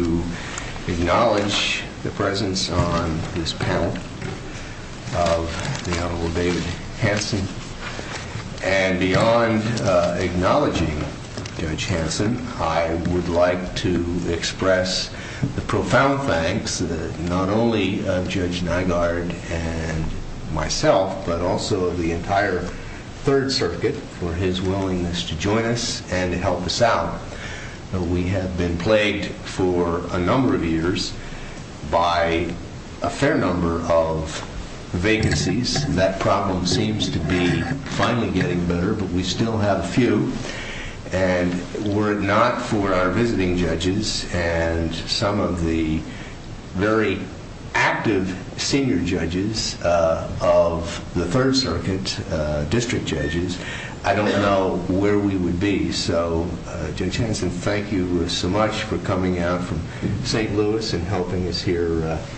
I would like to acknowledge the presence on this panel of the Honorable David Hanson. And beyond acknowledging Judge Hanson, I would like to express the profound thanks not only of Judge Nygaard and myself, but also of the entire Third Circuit for his willingness to join us and to help us out. We have been plagued for a number of years by a fair number of vacancies. That problem seems to be finally getting better, but we still have a few. And were it not for our visiting judges and some of the very active senior judges of the Third Circuit, district judges, I don't know where we would be. So, Judge Hanson, thank you so much for coming out from St. Louis and helping us here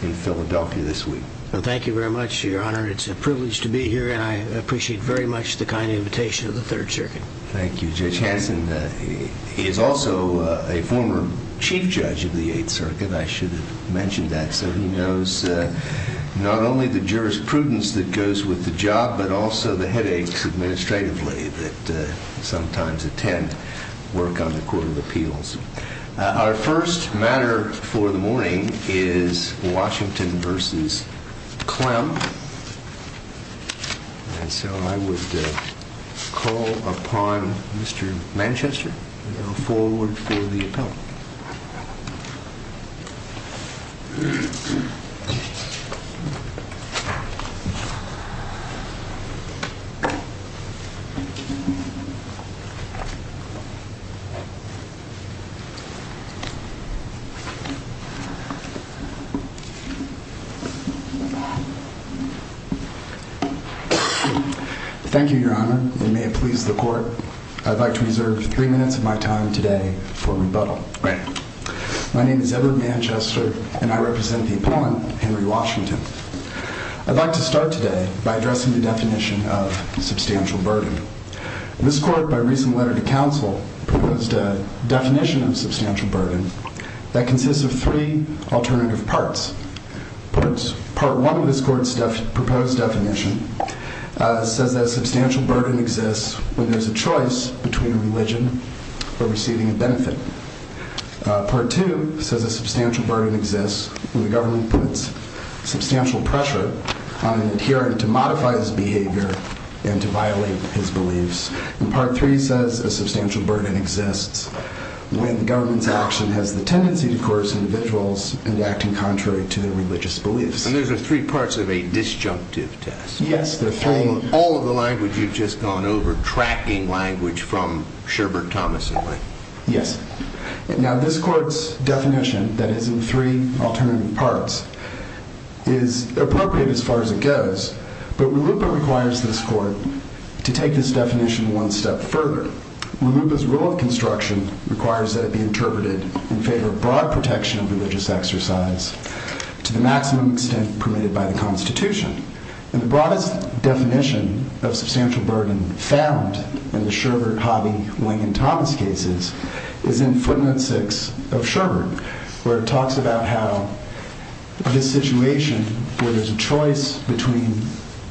in Philadelphia this week. Thank you very much, Your Honor. It's a privilege to be here, and I appreciate very much the kind invitation of the Third Circuit. Thank you. Judge Hanson is also a former chief judge of the Eighth Circuit. I should have mentioned that, so he knows not only the jurisprudence that goes with the job, but also the headaches administratively that sometimes attend work on the Court of Appeals. Our first matter for the morning is Washington v. Clem, and so I would call upon Mr. Manchester to come forward for the appellate. Thank you, Your Honor. It may have pleased the Court. I'd like to reserve three minutes of my time today for rebuttal. My name is Edward Manchester, and I represent the appellant, Henry Washington. I'd like to start today by addressing the definition of substantial burden. This Court, by recent letter to counsel, proposed a definition of substantial burden that consists of three alternative parts. Part one of this Court's proposed definition says that a substantial burden exists when there's a choice between religion or receiving a benefit. Part two says a substantial burden exists when the government puts substantial pressure on an adherent to modify his behavior and to violate his beliefs. And part three says a substantial burden exists when the government's action has the tendency to coerce individuals into acting contrary to their religious beliefs. And those are three parts of a disjunctive test. Yes. All of the language you've just gone over, tracking language from Sherbert Thomas and me. Yes. Now, this Court's definition that is in three alternative parts is appropriate as far as it goes, but RLUIPA requires this Court to take this definition one step further. RLUIPA's rule of construction requires that it be interpreted in favor of broad protection of religious exercise to the maximum extent permitted by the Constitution. And the broadest definition of substantial burden found in the Sherbert, Hobby, Wing, and Thomas cases is in footnote six of Sherbert, where it talks about how this situation where there's a choice between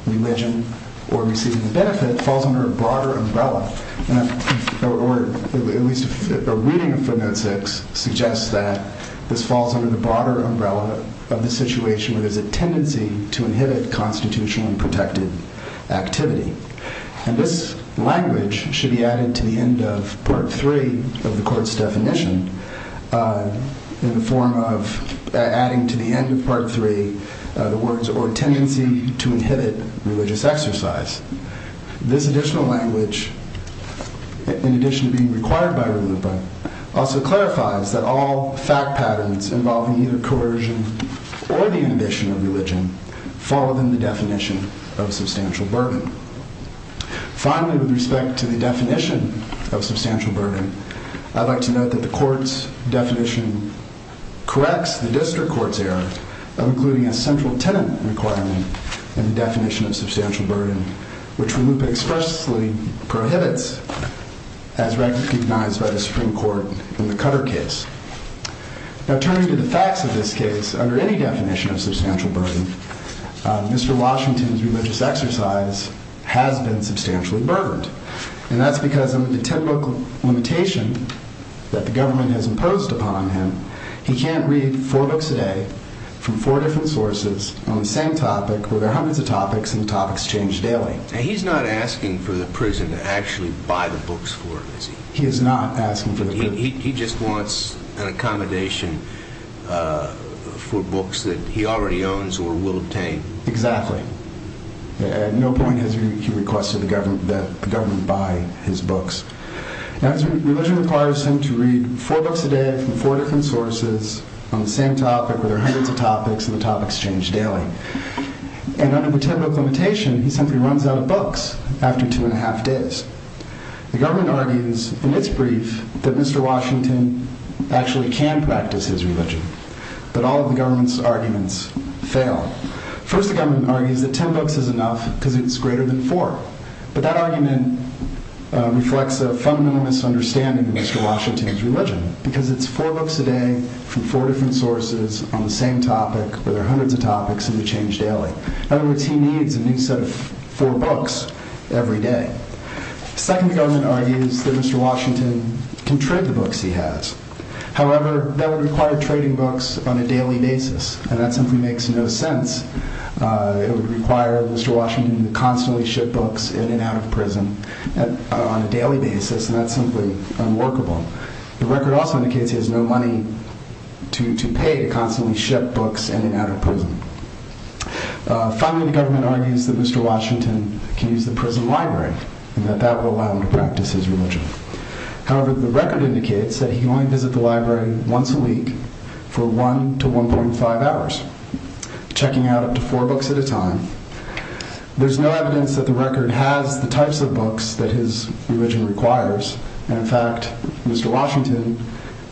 religion or receiving a benefit falls under a broader umbrella. Or at least a reading of footnote six suggests that this falls under the broader umbrella of the situation where there's a tendency to inhibit constitutionally protected activity. And this language should be added to the end of part three of the Court's definition in the form of adding to the end of part three the words or tendency to inhibit religious exercise. This additional language, in addition to being required by RLUIPA, also clarifies that all fact patterns involving either coercion or the inhibition of religion fall within the definition of substantial burden. Finally, with respect to the definition of substantial burden, I'd like to note that the Court's definition corrects the district court's error of including a central tenant requirement in the definition of substantial burden, which RLUIPA expressly prohibits as recognized by the Supreme Court in the Cutter case. Now, turning to the facts of this case, under any definition of substantial burden, Mr. Washington's religious exercise has been substantially burdened. And that's because under the ten-book limitation that the government has imposed upon him, he can't read four books a day from four different sources on the same topic where there are hundreds of topics and the topics change daily. He's not asking for the prison to actually buy the books for him, is he? He is not asking for the prison. He just wants an accommodation for books that he already owns or will obtain. Exactly. At no point has he requested that the government buy his books. Now, his religion requires him to read four books a day from four different sources on the same topic where there are hundreds of topics and the topics change daily. And under the ten-book limitation, he simply runs out of books after two and a half days. The government argues in its brief that Mr. Washington actually can practice his religion. But all of the government's arguments fail. First, the government argues that ten books is enough because it's greater than four. But that argument reflects a fundamental misunderstanding of Mr. Washington's religion because it's four books a day from four different sources on the same topic where there are hundreds of topics and the topics change daily. In other words, he needs a new set of four books every day. Second, the government argues that Mr. Washington can trade the books he has. However, that would require trading books on a daily basis. And that simply makes no sense. It would require Mr. Washington to constantly ship books in and out of prison on a daily basis. And that's simply unworkable. The record also indicates he has no money to pay to constantly ship books in and out of prison. Finally, the government argues that Mr. Washington can use the prison library and that that will allow him to practice his religion. However, the record indicates that he can only visit the library once a week for one to 1.5 hours, checking out up to four books at a time. There's no evidence that the record has the types of books that his religion requires. In fact, Mr. Washington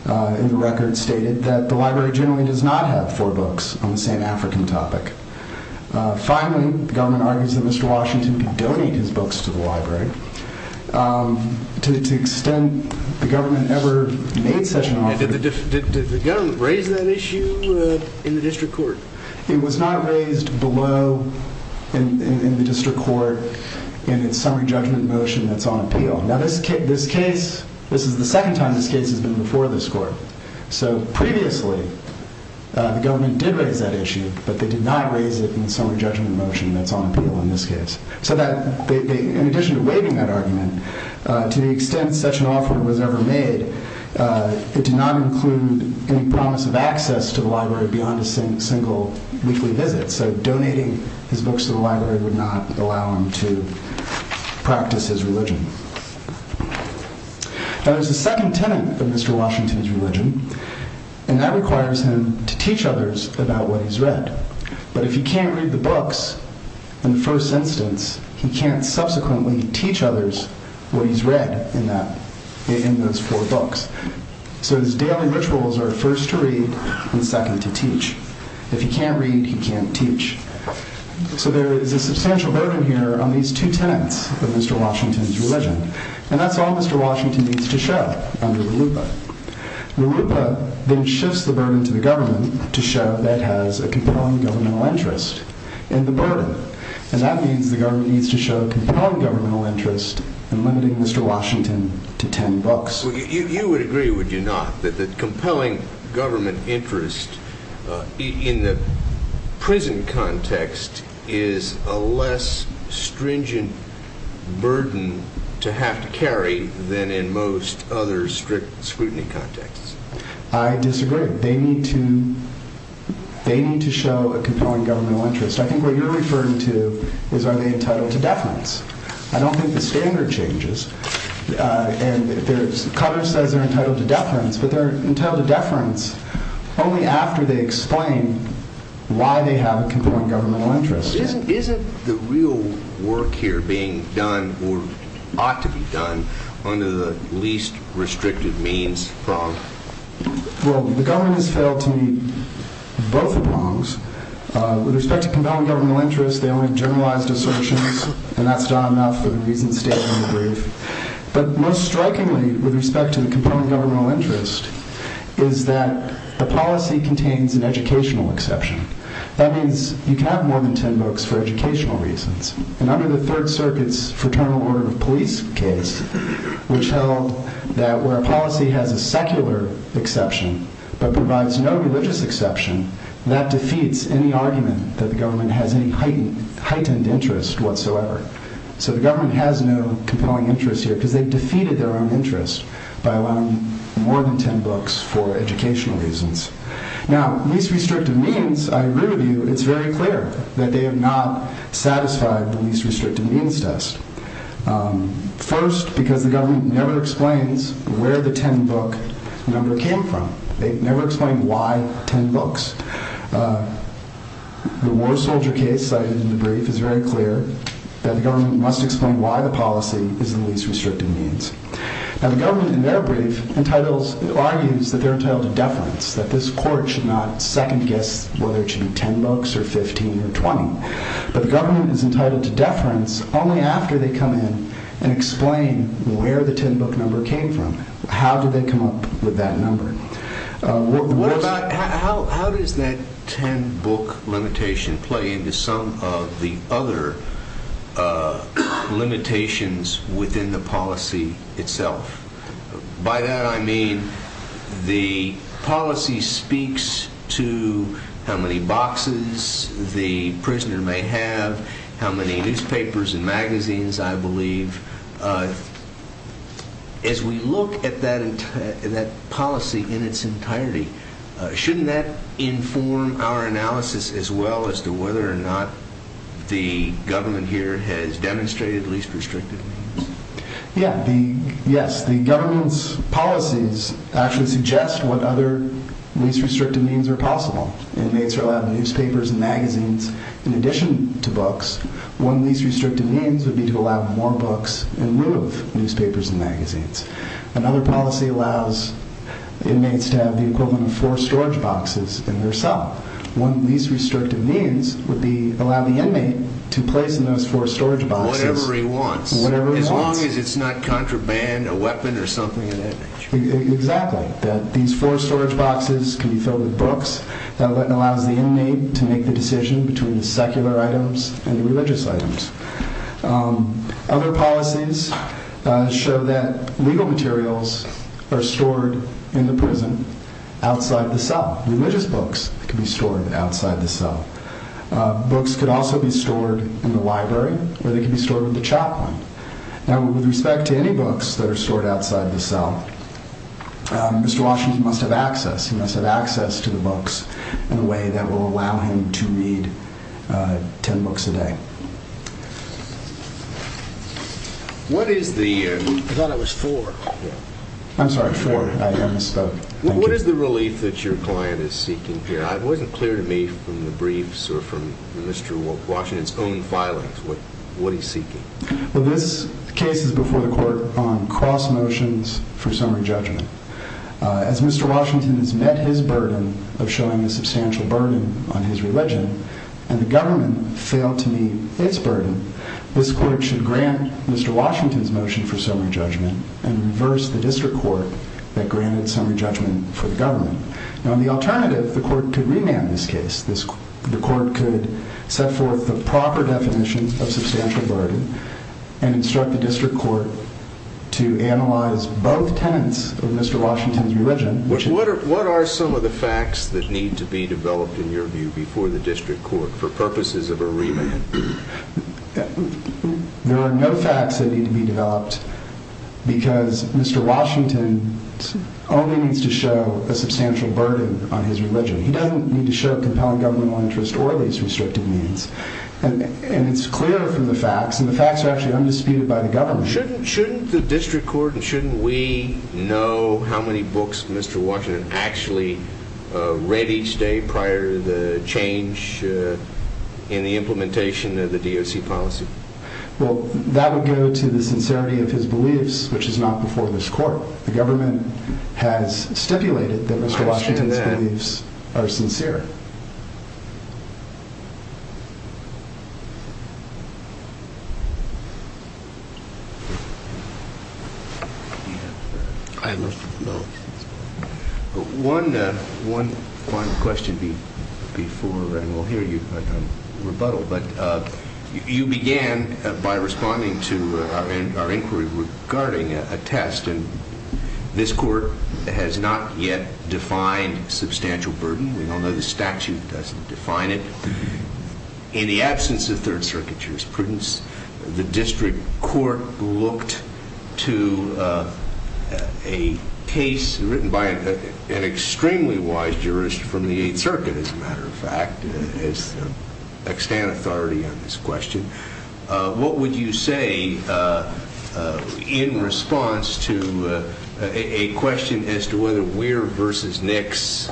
in the record stated that the library generally does not have four books on the same African topic. Finally, the government argues that Mr. Washington can donate his books to the library. To the extent the government ever made such an offer. Did the government raise that issue in the district court? It was not raised below in the district court in its summary judgment motion that's on appeal. Now this case, this is the second time this case has been before this court. So previously, the government did raise that issue, but they did not raise it in the summary judgment motion that's on appeal in this case. So that, in addition to waiving that argument, to the extent such an offer was ever made, it did not include any promise of access to the library beyond a single weekly visit. So donating his books to the library would not allow him to practice his religion. Now there's a second tenet of Mr. Washington's religion, and that requires him to teach others about what he's read. But if he can't read the books in the first instance, he can't subsequently teach others what he's read in those four books. So his daily rituals are first to read and second to teach. If he can't read, he can't teach. So there is a substantial burden here on these two tenets of Mr. Washington's religion. And that's all Mr. Washington needs to show under the LUPA. The LUPA then shifts the burden to the government to show that it has a compelling governmental interest in the burden. And that means the government needs to show a compelling governmental interest in limiting Mr. Washington to ten books. You would agree, would you not, that the compelling government interest in the prison context is a less stringent burden to have to carry than in most other strict scrutiny contexts? I disagree. They need to show a compelling governmental interest. I think what you're referring to is are they entitled to deference? I don't think the standard changes. Cutler says they're entitled to deference, but they're entitled to deference only after they explain why they have a compelling governmental interest. Isn't the real work here being done, or ought to be done, under the least restrictive means prong? Well, the government has failed to meet both prongs. With respect to compelling governmental interest, they only have generalized assertions, and that's done enough for the reason stated in the brief. But most strikingly, with respect to the compelling governmental interest, is that the policy contains an educational exception. That means you can have more than ten books for educational reasons. And under the Third Circuit's Fraternal Order of Police case, which held that where a policy has a secular exception but provides no religious exception, that defeats any argument that the government has any heightened interest whatsoever. So the government has no compelling interest here, because they've defeated their own interest by allowing more than ten books for educational reasons. Now, least restrictive means, I agree with you, it's very clear that they have not satisfied the least restrictive means test. First, because the government never explains where the ten-book number came from. They never explain why ten books. The war soldier case cited in the brief is very clear that the government must explain why the policy is the least restrictive means. Now, the government, in their brief, argues that they're entitled to deference, that this court should not second-guess whether it should be ten books or 15 or 20. But the government is entitled to deference only after they come in and explain where the ten-book number came from. How did they come up with that number? What about... how does that ten-book limitation play into some of the other limitations within the policy itself? By that, I mean the policy speaks to how many boxes the prisoner may have, how many newspapers and magazines, I believe. As we look at that policy in its entirety, shouldn't that inform our analysis as well as to whether or not the government here has demonstrated least restrictive means? Yes, the government's policies actually suggest what other least restrictive means are possible. It may allow newspapers and magazines in addition to books. One of the least restrictive means would be to allow more books in lieu of newspapers and magazines. Another policy allows inmates to have the equivalent of four storage boxes in their cell. One of the least restrictive means would be allow the inmate to place in those four storage boxes... Whatever he wants. Whatever he wants. As long as it's not contraband, a weapon, or something of that nature. Exactly. These four storage boxes can be filled with books. That allows the inmate to make the decision between the secular items and the religious items. Other policies show that legal materials are stored in the prison outside the cell. Religious books can be stored outside the cell. Books could also be stored in the library or they could be stored with the chaplain. Now, with respect to any books that are stored outside the cell, Mr. Washington must have access. He must have access to the books in a way that will allow him to read ten books a day. What is the... I thought I was four. I'm sorry, four. I misspoke. What is the relief that your client is seeking here? It wasn't clear to me from the briefs or from Mr. Washington's own filings what he's seeking. Well, this case is before the court on cross motions for summary judgment. As Mr. Washington has met his burden of showing a substantial burden on his religion, and the government failed to meet its burden, this court should grant Mr. Washington's motion for summary judgment and reverse the district court that granted summary judgment for the government. Now, in the alternative, the court could remand this case. The court could set forth the proper definition of substantial burden and instruct the district court to analyze both tenets of Mr. Washington's religion. What are some of the facts that need to be developed, in your view, before the district court for purposes of a remand? There are no facts that need to be developed because Mr. Washington only needs to show a substantial burden on his religion. He doesn't need to show a compelling governmental interest or these restrictive means. And it's clear from the facts, and the facts are actually undisputed by the government. Shouldn't the district court and shouldn't we know how many books Mr. Washington actually read each day prior to the change in the implementation of the DOC policy? Well, that would go to the sincerity of his beliefs, which is not before this court. The government has stipulated that Mr. Washington's beliefs are sincere. I have a question. One question before, and we'll hear you rebuttal. But you began by responding to our inquiry regarding a test, and this court is a very important one. And I'm wondering if you could explain what you mean by substantial burden. The statute doesn't define it. In the absence of 3rd Circuit jurisprudence, the district court looked to a case written by an extremely wise jurist from the 8th Circuit, as a matter of fact, to extend authority on this question. What would you say in response to a question as to whether Weir v. Nix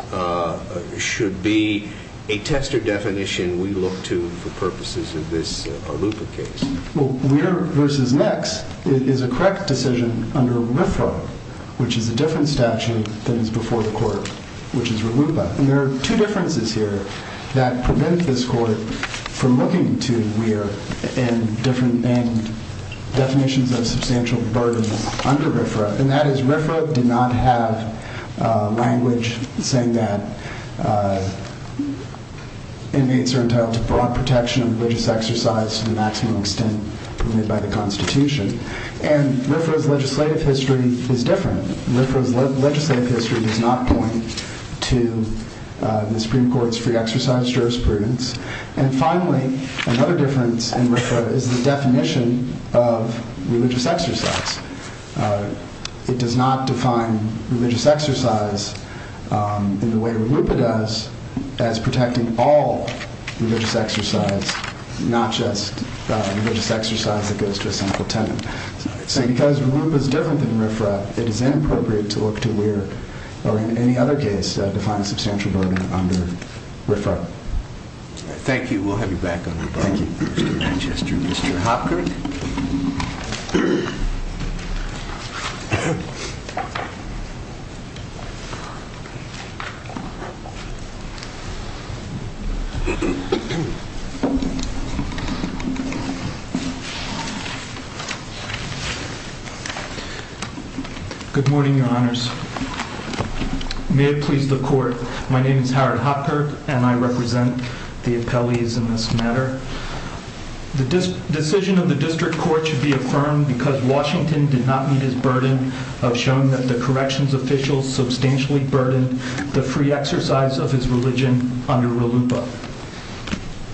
should be a test or definition we look to for purposes of this Arlupa case? Weir v. Nix is a correct decision under RFRA, which is a different statute than is before the court, which is for Arlupa. And there are two differences here that prevent this court from looking to Weir and definitions of substantial burden under RFRA, and that is RFRA did not have language saying that inmates are entitled to broad protection of religious exercise to the maximum extent permitted by the Constitution. And RFRA's legislative history is different. RFRA's legislative history does not point to the Supreme Court's free exercise jurisprudence. And finally, another difference in RFRA is the definition of religious exercise. It does not define religious exercise in the way Arlupa does as protecting all religious exercise, not just religious exercise that goes to a central tenant. So because Arlupa's different than RFRA, it is inappropriate to look to Weir or in any other case to find a substantial burden under RFRA. Thank you. We'll have you back on the phone. Thank you, Mr. Manchester. Mr. Hopkins? Good morning, Your Honors. May it please the Court. My name is Howard Hopkirk, and I represent the appellees in this matter. The decision of the District Court should be affirmed because Washington did not meet his burden of showing that the corrections officials substantially burdened the free exercise of his religion under Arlupa.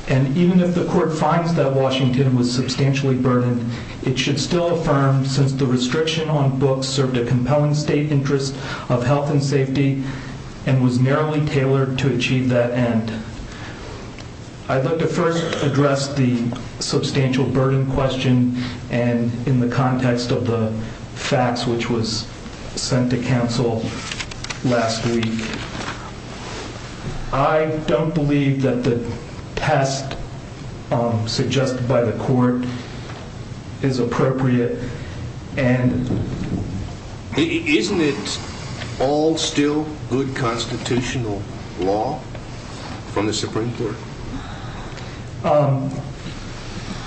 And even if the Court finds that Washington was substantially burdened, it should still affirm since the restriction on books served a compelling state interest of health and safety and was narrowly tailored to achieve that end. I'd like to first address the and in the context of the facts which was sent to counsel last week. I don't believe that the test suggested by the Court is appropriate and Isn't it all still good constitutional law from the Supreme Court? Um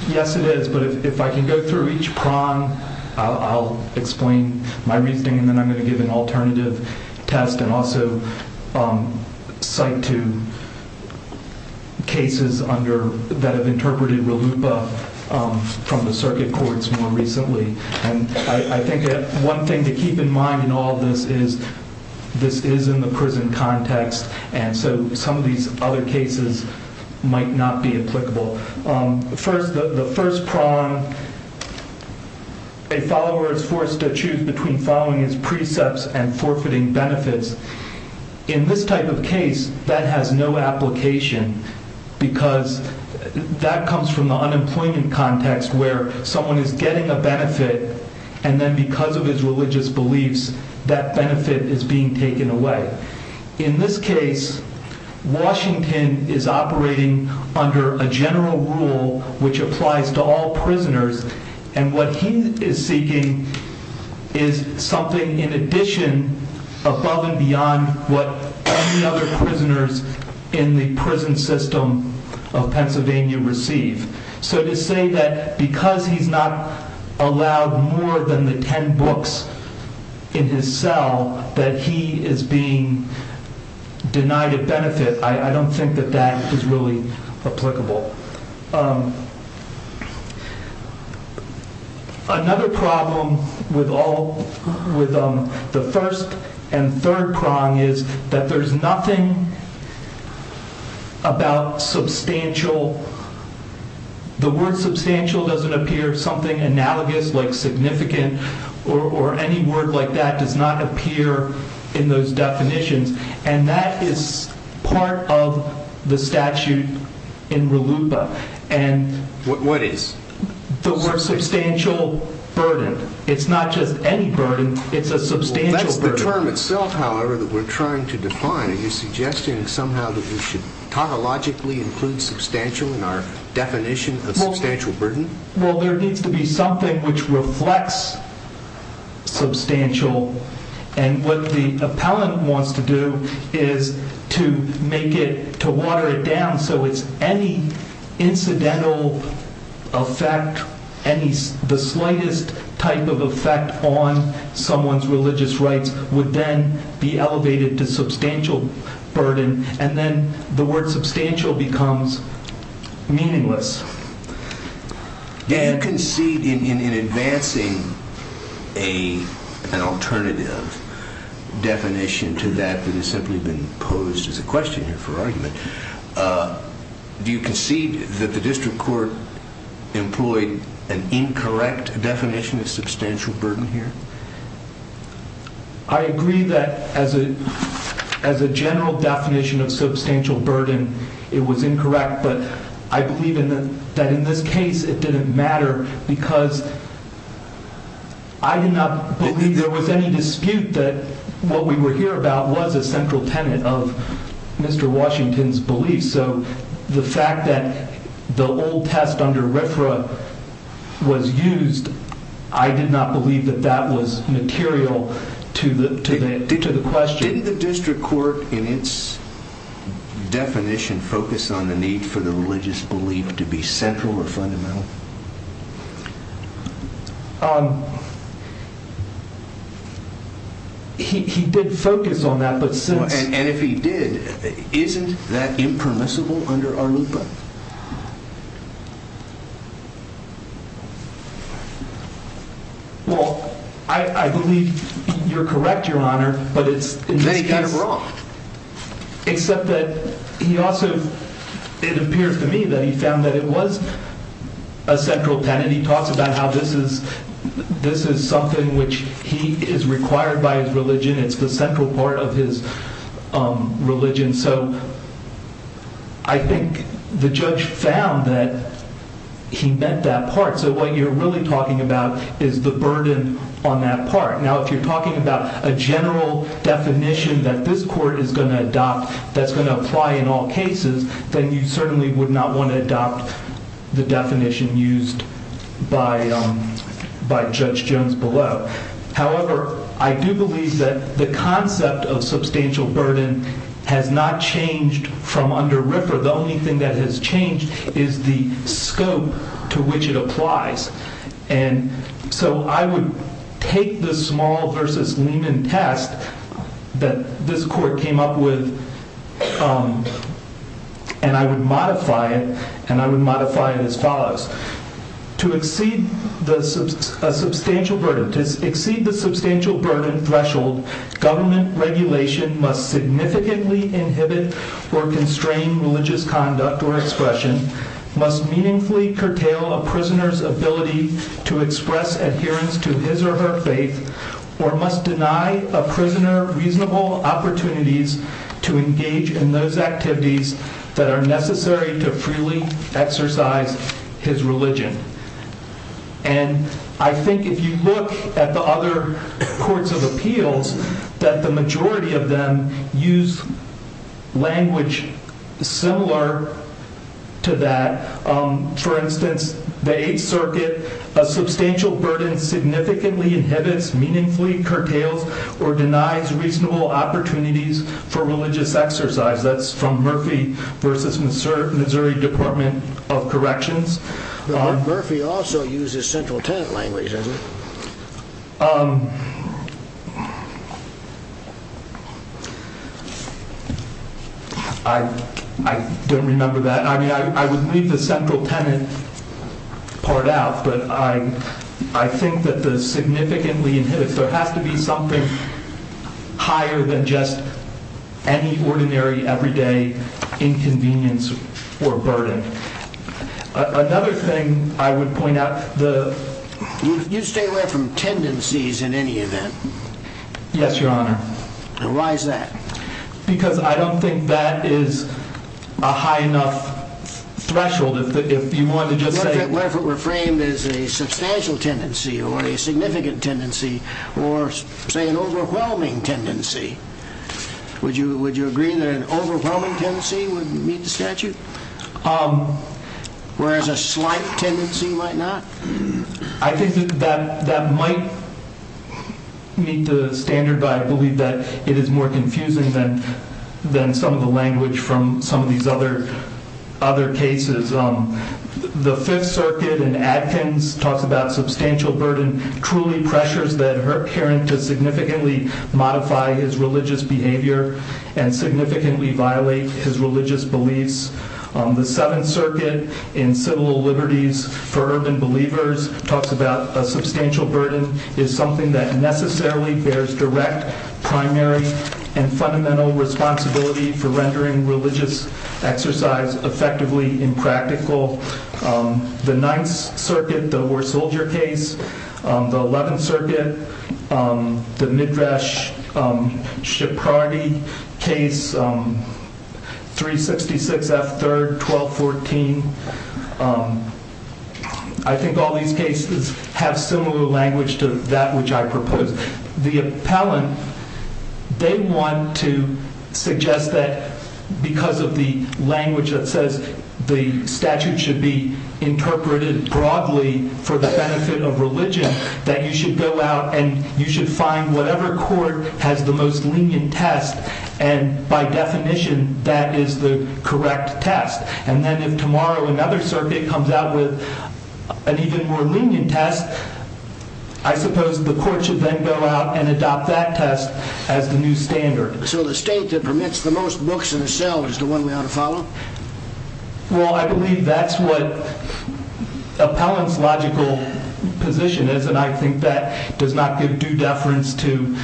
Yes, it is. But if I can go through each prong I'll explain my reasoning and then I'm going to give an alternative test and also cite to cases under that have interpreted Arlupa from the Circuit Courts more recently. I think that one thing to keep in mind in all of this is this is in the prison context and so some of these other cases might not be applicable. Um, first the first prong a follower is forced to choose between following his precepts and forfeiting benefits in this type of case that has no application because that comes from the unemployment context where someone is getting a benefit and then because of his religious beliefs that benefit is being taken away. In this case Washington is operating under a general rule which applies to all prisoners and what he is seeking is something in addition above and beyond what any other prisoners in the prison system of Pennsylvania receive. So to say that because he's not allowed more than the ten books in his cell that he is being denied a benefit I don't think that that is really applicable. Another problem with all the first and third prong is that there's nothing about substantial the word substantial doesn't appear something analogous like significant or any word like that does not appear in those definitions and that is part of the statute in RLUPA What is? The word substantial burden it's not just any burden it's a substantial burden. That's the term itself however that we're trying to define are you suggesting somehow that we should tautologically include substantial in our definition of substantial burden? Well there needs to be something which reflects substantial and what the appellant wants to do is to make it to water it down so it's any incidental effect the slightest type of effect on someone's religious rights would then be elevated to substantial burden and then the word substantial becomes meaningless Do you concede in advancing an alternative definition to that that has simply been posed as a question here for argument do you concede that the district court employed an incorrect definition of substantial burden here? I agree that as a general definition of substantial but I believe that in this case it didn't matter because I did not believe there was any dispute that what we were here about was a central tenet of Mr. Washington's belief so the fact that the old test under RFRA was used I did not believe that that was material to the question. Didn't the district court in its definition focus on the need for the religious belief to be central or fundamental? He did focus on that but since And if he did, isn't that impermissible under ARLUPA? Well, I believe you're correct your honor but it's kind of wrong except that he also it appears to me that he found that it was a central tenet. He talks about how this is this is something which he is required by his religion it's the central part of his religion so I think the judge found that really talking about is the burden on that part. Now if you're talking about a general definition that this court is going to adopt that's going to apply in all cases then you certainly would not want to adopt the definition used by Judge Jones below however, I do believe that the concept of substantial burden has not changed from under RFRA. The only thing that has changed is the scope to which it applies and so I would take this small versus Lehman test that this court came up with and I would modify it as follows to exceed the substantial burden threshold, government regulation must significantly inhibit or constrain religious conduct or expression must meaningfully curtail a prisoner's ability to faith or must deny a prisoner reasonable opportunities to engage in those activities that are necessary to freely exercise his religion and I think if you look at the other courts of appeals that the majority of them use language similar to that for instance the 8th circuit a substantial burden significantly inhibits meaningfully curtails or denies reasonable opportunities for religious exercise that's from Murphy versus Missouri Department of Corrections Murphy also uses central tenant language isn't it? I don't remember that I would leave the central tenant part out but I think that the significantly inhibits there has to be something higher than just any ordinary everyday inconvenience or burden another thing I would point out you stay away from tendencies in any event yes your honor because I don't think that is a high enough threshold what if it were framed as a substantial tendency or a significant tendency or say an overwhelming tendency would you agree that an overwhelming tendency would meet the statute whereas a slight tendency might not I think that might meet the standard but I believe that it is more confusing than some of the language from some of these other cases the 5th circuit in Adkins talks about substantial burden truly pressures that occur to significantly modify his religious behavior and significantly violate his religious beliefs the 7th circuit in civil liberties for urban believers talks about a substantial burden is something that necessarily bears direct primary and fundamental responsibility for rendering religious exercise effectively impractical the 9th circuit the war soldier case the 11th circuit the midrash shepardi case 366 F 3rd 1214 I think all these cases have similar language to that which I proposed the appellant they want to suggest that because of the language that says the statute should be interpreted broadly for the benefit of religion that you should go out and you should find whatever court has the most lenient test and by definition that is the correct test and then if tomorrow another circuit comes out with an even more lenient test I suppose the court should then go out and adopt that test as the new standard so the state that permits the most books in a cell is the one we ought to follow well I believe that's what appellants logical position is and I think that does not give due deference to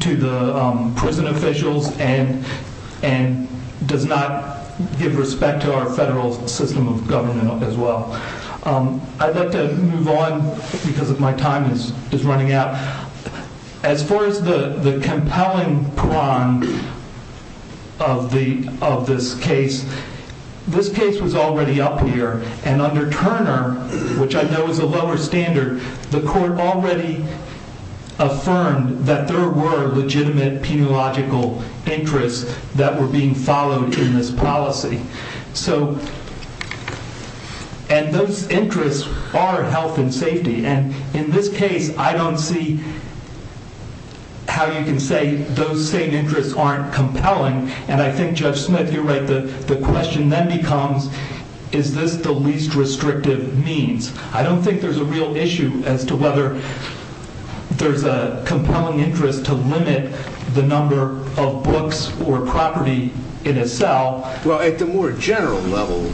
to the prison officials and and does not give respect to our federal system of government as well I'd like to move on because my time is running out as far as the compelling of the of this case this case was already up here and under Turner which I know is a lower standard the court already affirmed that there were legitimate penological interests that were being followed in this policy and those and in this case I don't see how you can say those same interests aren't compelling and I think Judge Smith you're right the question then becomes is this the least restrictive means I don't think there's a real issue as to whether there's a compelling interest to limit the number of books or property in a cell well at the more general level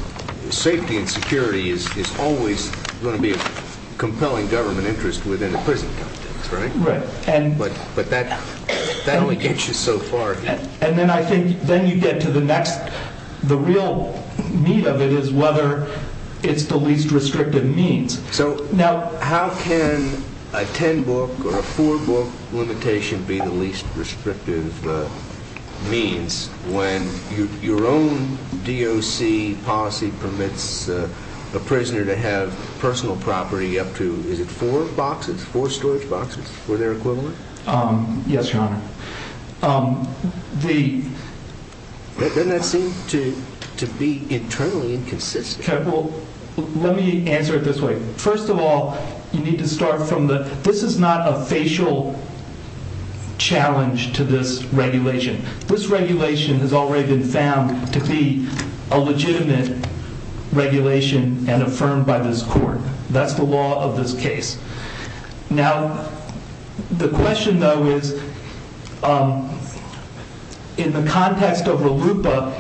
safety and security is always going to be a compelling government interest within the prison context but that that only gets you so far and then I think then you get to the next the real meat of it is whether it's the least restrictive means now how can a 10 book or a 4 book limitation be the least restrictive means when your own DOC policy permits a prisoner to have personal property up to 4 boxes 4 storage boxes were there equivalent? yes your honor doesn't that seem to be internally inconsistent let me answer it this way first of all you need to start from this is not a facial challenge to this regulation this regulation has already been found to be a legitimate regulation and affirmed by this court that's the law of this case now the question though is in the context of RLUIPA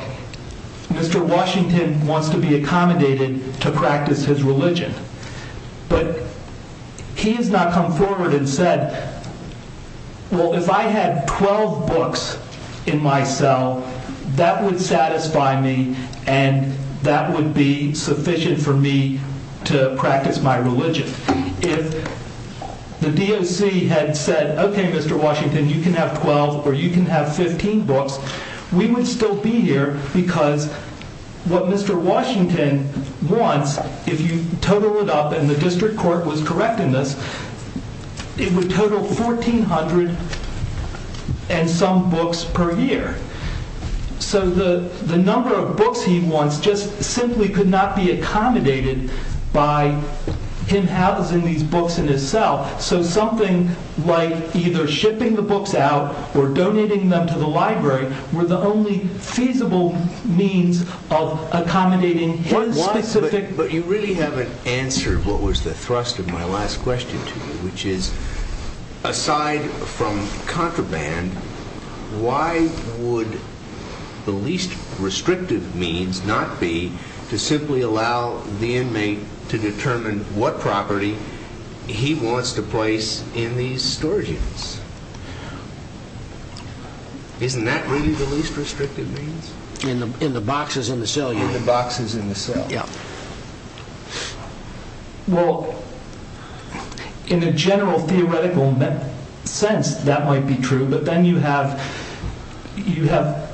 Mr. Washington wants to be accommodated to practice his religion but he has not come forward and said well if I had 12 books in my cell that would satisfy me and that would be sufficient for me to practice my religion if the DOC had said ok Mr. Washington you can have 12 or you can have 15 books we would still be here because what Mr. Washington wants if you total it up and the district court was correct in this it would total 1400 and some books per year so the number of books he wants just simply could not be accommodated by him housing these books in his cell so something like either shipping the books out or donating them to the library were the only feasible means of accommodating his specific but you really haven't answered what was the thrust of my last question to you which is aside from contraband why would the least restrictive means not be to simply allow the inmate to determine what property he wants to place in these storage units isn't that really the least restrictive means in the boxes in the cell in the boxes in the cell well in a general theoretical sense that might be true but then you have you have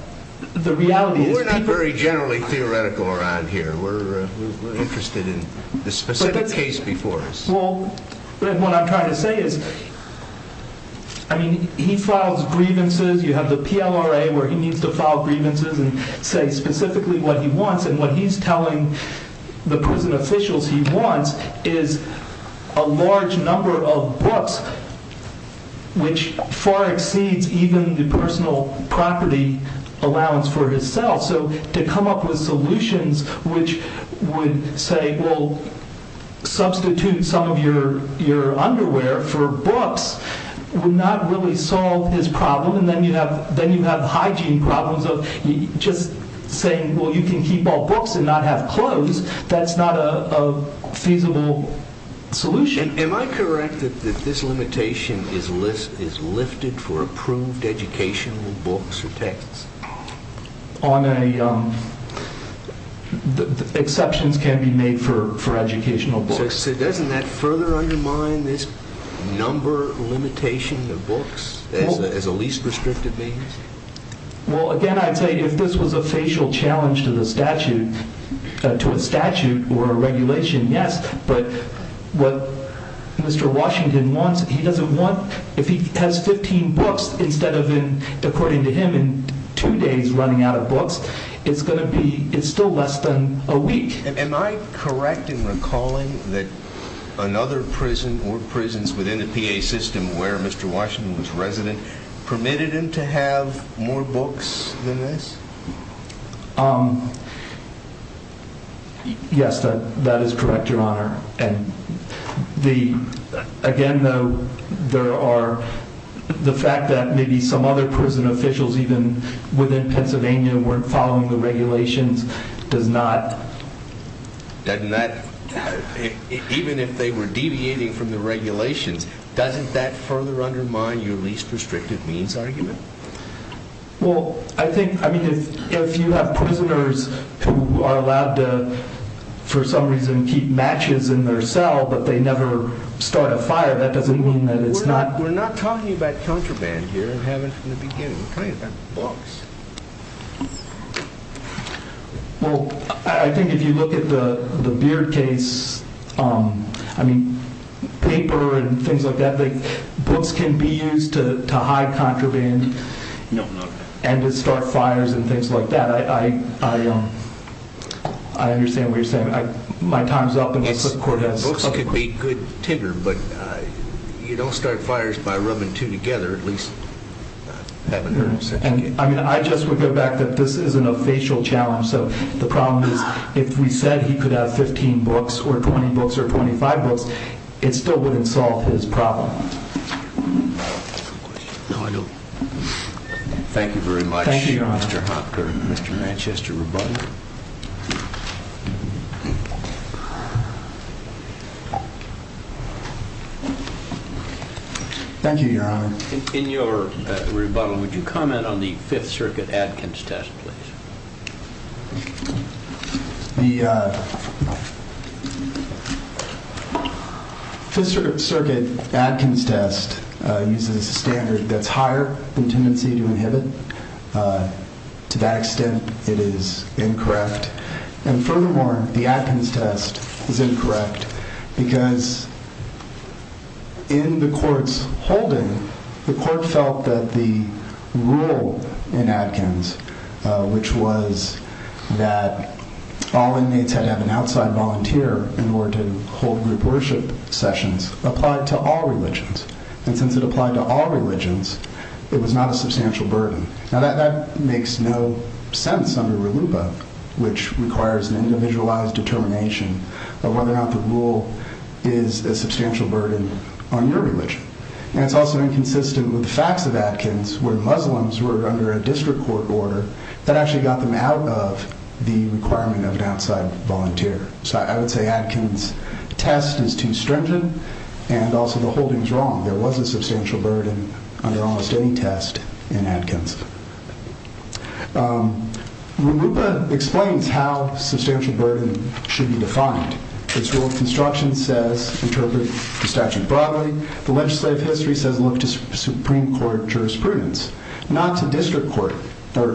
the reality is we're not very generally theoretical around here we're interested in the specific case before us what I'm trying to say is I mean he files grievances you have the PLRA where he needs to file grievances and say specifically what he wants and what he's telling the prison officials he wants is a large number of books which far exceeds even the personal property allowance for his cell so to come up with solutions which would say well substitute some of your underwear for books his problem and then you have hygiene problems of just saying well you can keep all books and not have clothes that's not a feasible solution am I correct that this limitation is lifted for approved educational books or texts on a exceptions can be made for educational books so doesn't that further undermine this number limitation of books as a least restrictive means well again I'd say if this was a facial challenge to the statute to a statute or a regulation yes but what Mr. Washington wants he doesn't want if he has 15 books instead of in according to him two days running out of books it's going to be it's still less than a week am I correct in recalling that another prison or prisons within the PA system where Mr. Washington was resident permitted him to have more books than this um yes that is correct your honor the again though there are the fact that maybe some other prison officials even within Pennsylvania weren't following the regulations does not doesn't that even if they were deviating from the regulations doesn't that further undermine your least well I think I mean if you have prisoners who are allowed to for some reason keep matches in their cell but they never start a fire that doesn't mean that it's not we're not talking about contraband here we haven't from the beginning we're talking about books well I think if you look at the Beard case um I mean paper and things like that books can be used to and to start fires and things like that I understand what you're saying my time's up books can be good tinder but you don't start fires by rubbing two together I just would go back that this isn't a facial challenge so the problem is if we said he could have 15 books or 20 books or 25 books it still wouldn't solve his problem no I don't thank you very much thank you your honor thank you your honor in your rebuttal would you comment on the 5th circuit Adkins test please the uh 5th circuit Adkins test uses a standard that's higher than tendency to inhibit to that extent it is incorrect and furthermore the Adkins test is incorrect because in the courts holding the court felt that the rule in Adkins which was that all inmates had to have an outside volunteer in order to hold group worship sessions applied to all religions and since it applied to all religions it was not a substantial burden now that makes no sense under RLUPA which requires an individualized determination of whether or not the rule is a substantial burden on your religion and it's also inconsistent with the facts of Adkins where Muslims were under a district court order that actually got them out of the requirement of an outside volunteer so I would say that Adkins test is too stringent and also the holding is wrong there was a substantial burden under almost any test in Adkins RLUPA explains how substantial burden should be defined construction says interpret the statute broadly the legislative history says look to supreme court jurisprudence not to district court or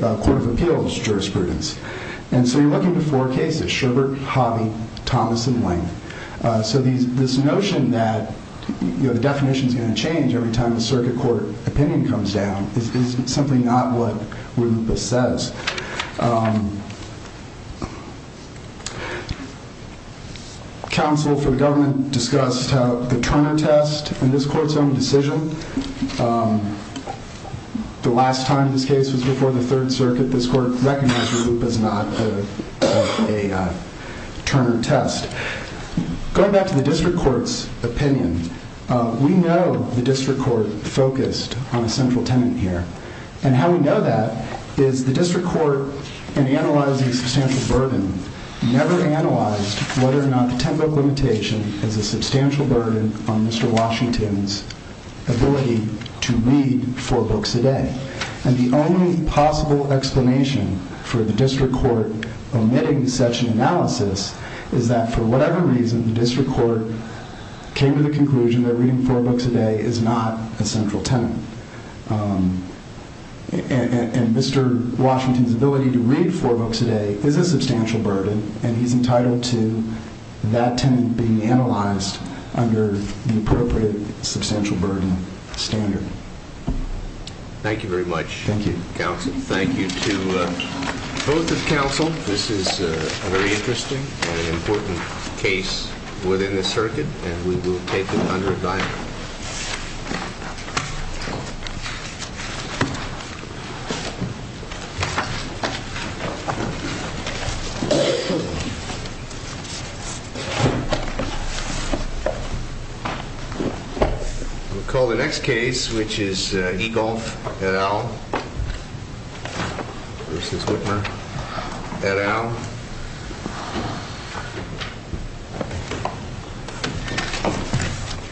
court of appeals jurisprudence and so you're looking to four cases Sherbert, Hobby, Thomas and Wing so this notion that the definition is going to change every time the circuit court opinion comes down is simply not what RLUPA says counsel for the government discussed how the Turner test in this court's own decision the last time this case was before the third circuit this court recognized RLUPA as not a Turner test going back to the district court's opinion we know the district court focused on a central tenant here and how we know that is the district court in analyzing substantial burden never analyzed whether or not the ten book limitation is a substantial burden on Mr. Washington's ability to read four books a day and the only possible explanation for the district court omitting such an analysis is that for whatever reason the district court came to the conclusion that reading four books a day is not a central tenant and Mr. Washington's ability to read four books a day is a substantial burden and he's entitled to that tenant being analyzed under the appropriate substantial burden standard thank you very much counsel thank you to both of council this is a very interesting and important case within the circuit and we will take it under advisement we'll call the next case which is Egonf et al versus versus Egonf et al versus Whitmer et al versus Egonf, Whitmer et al versus White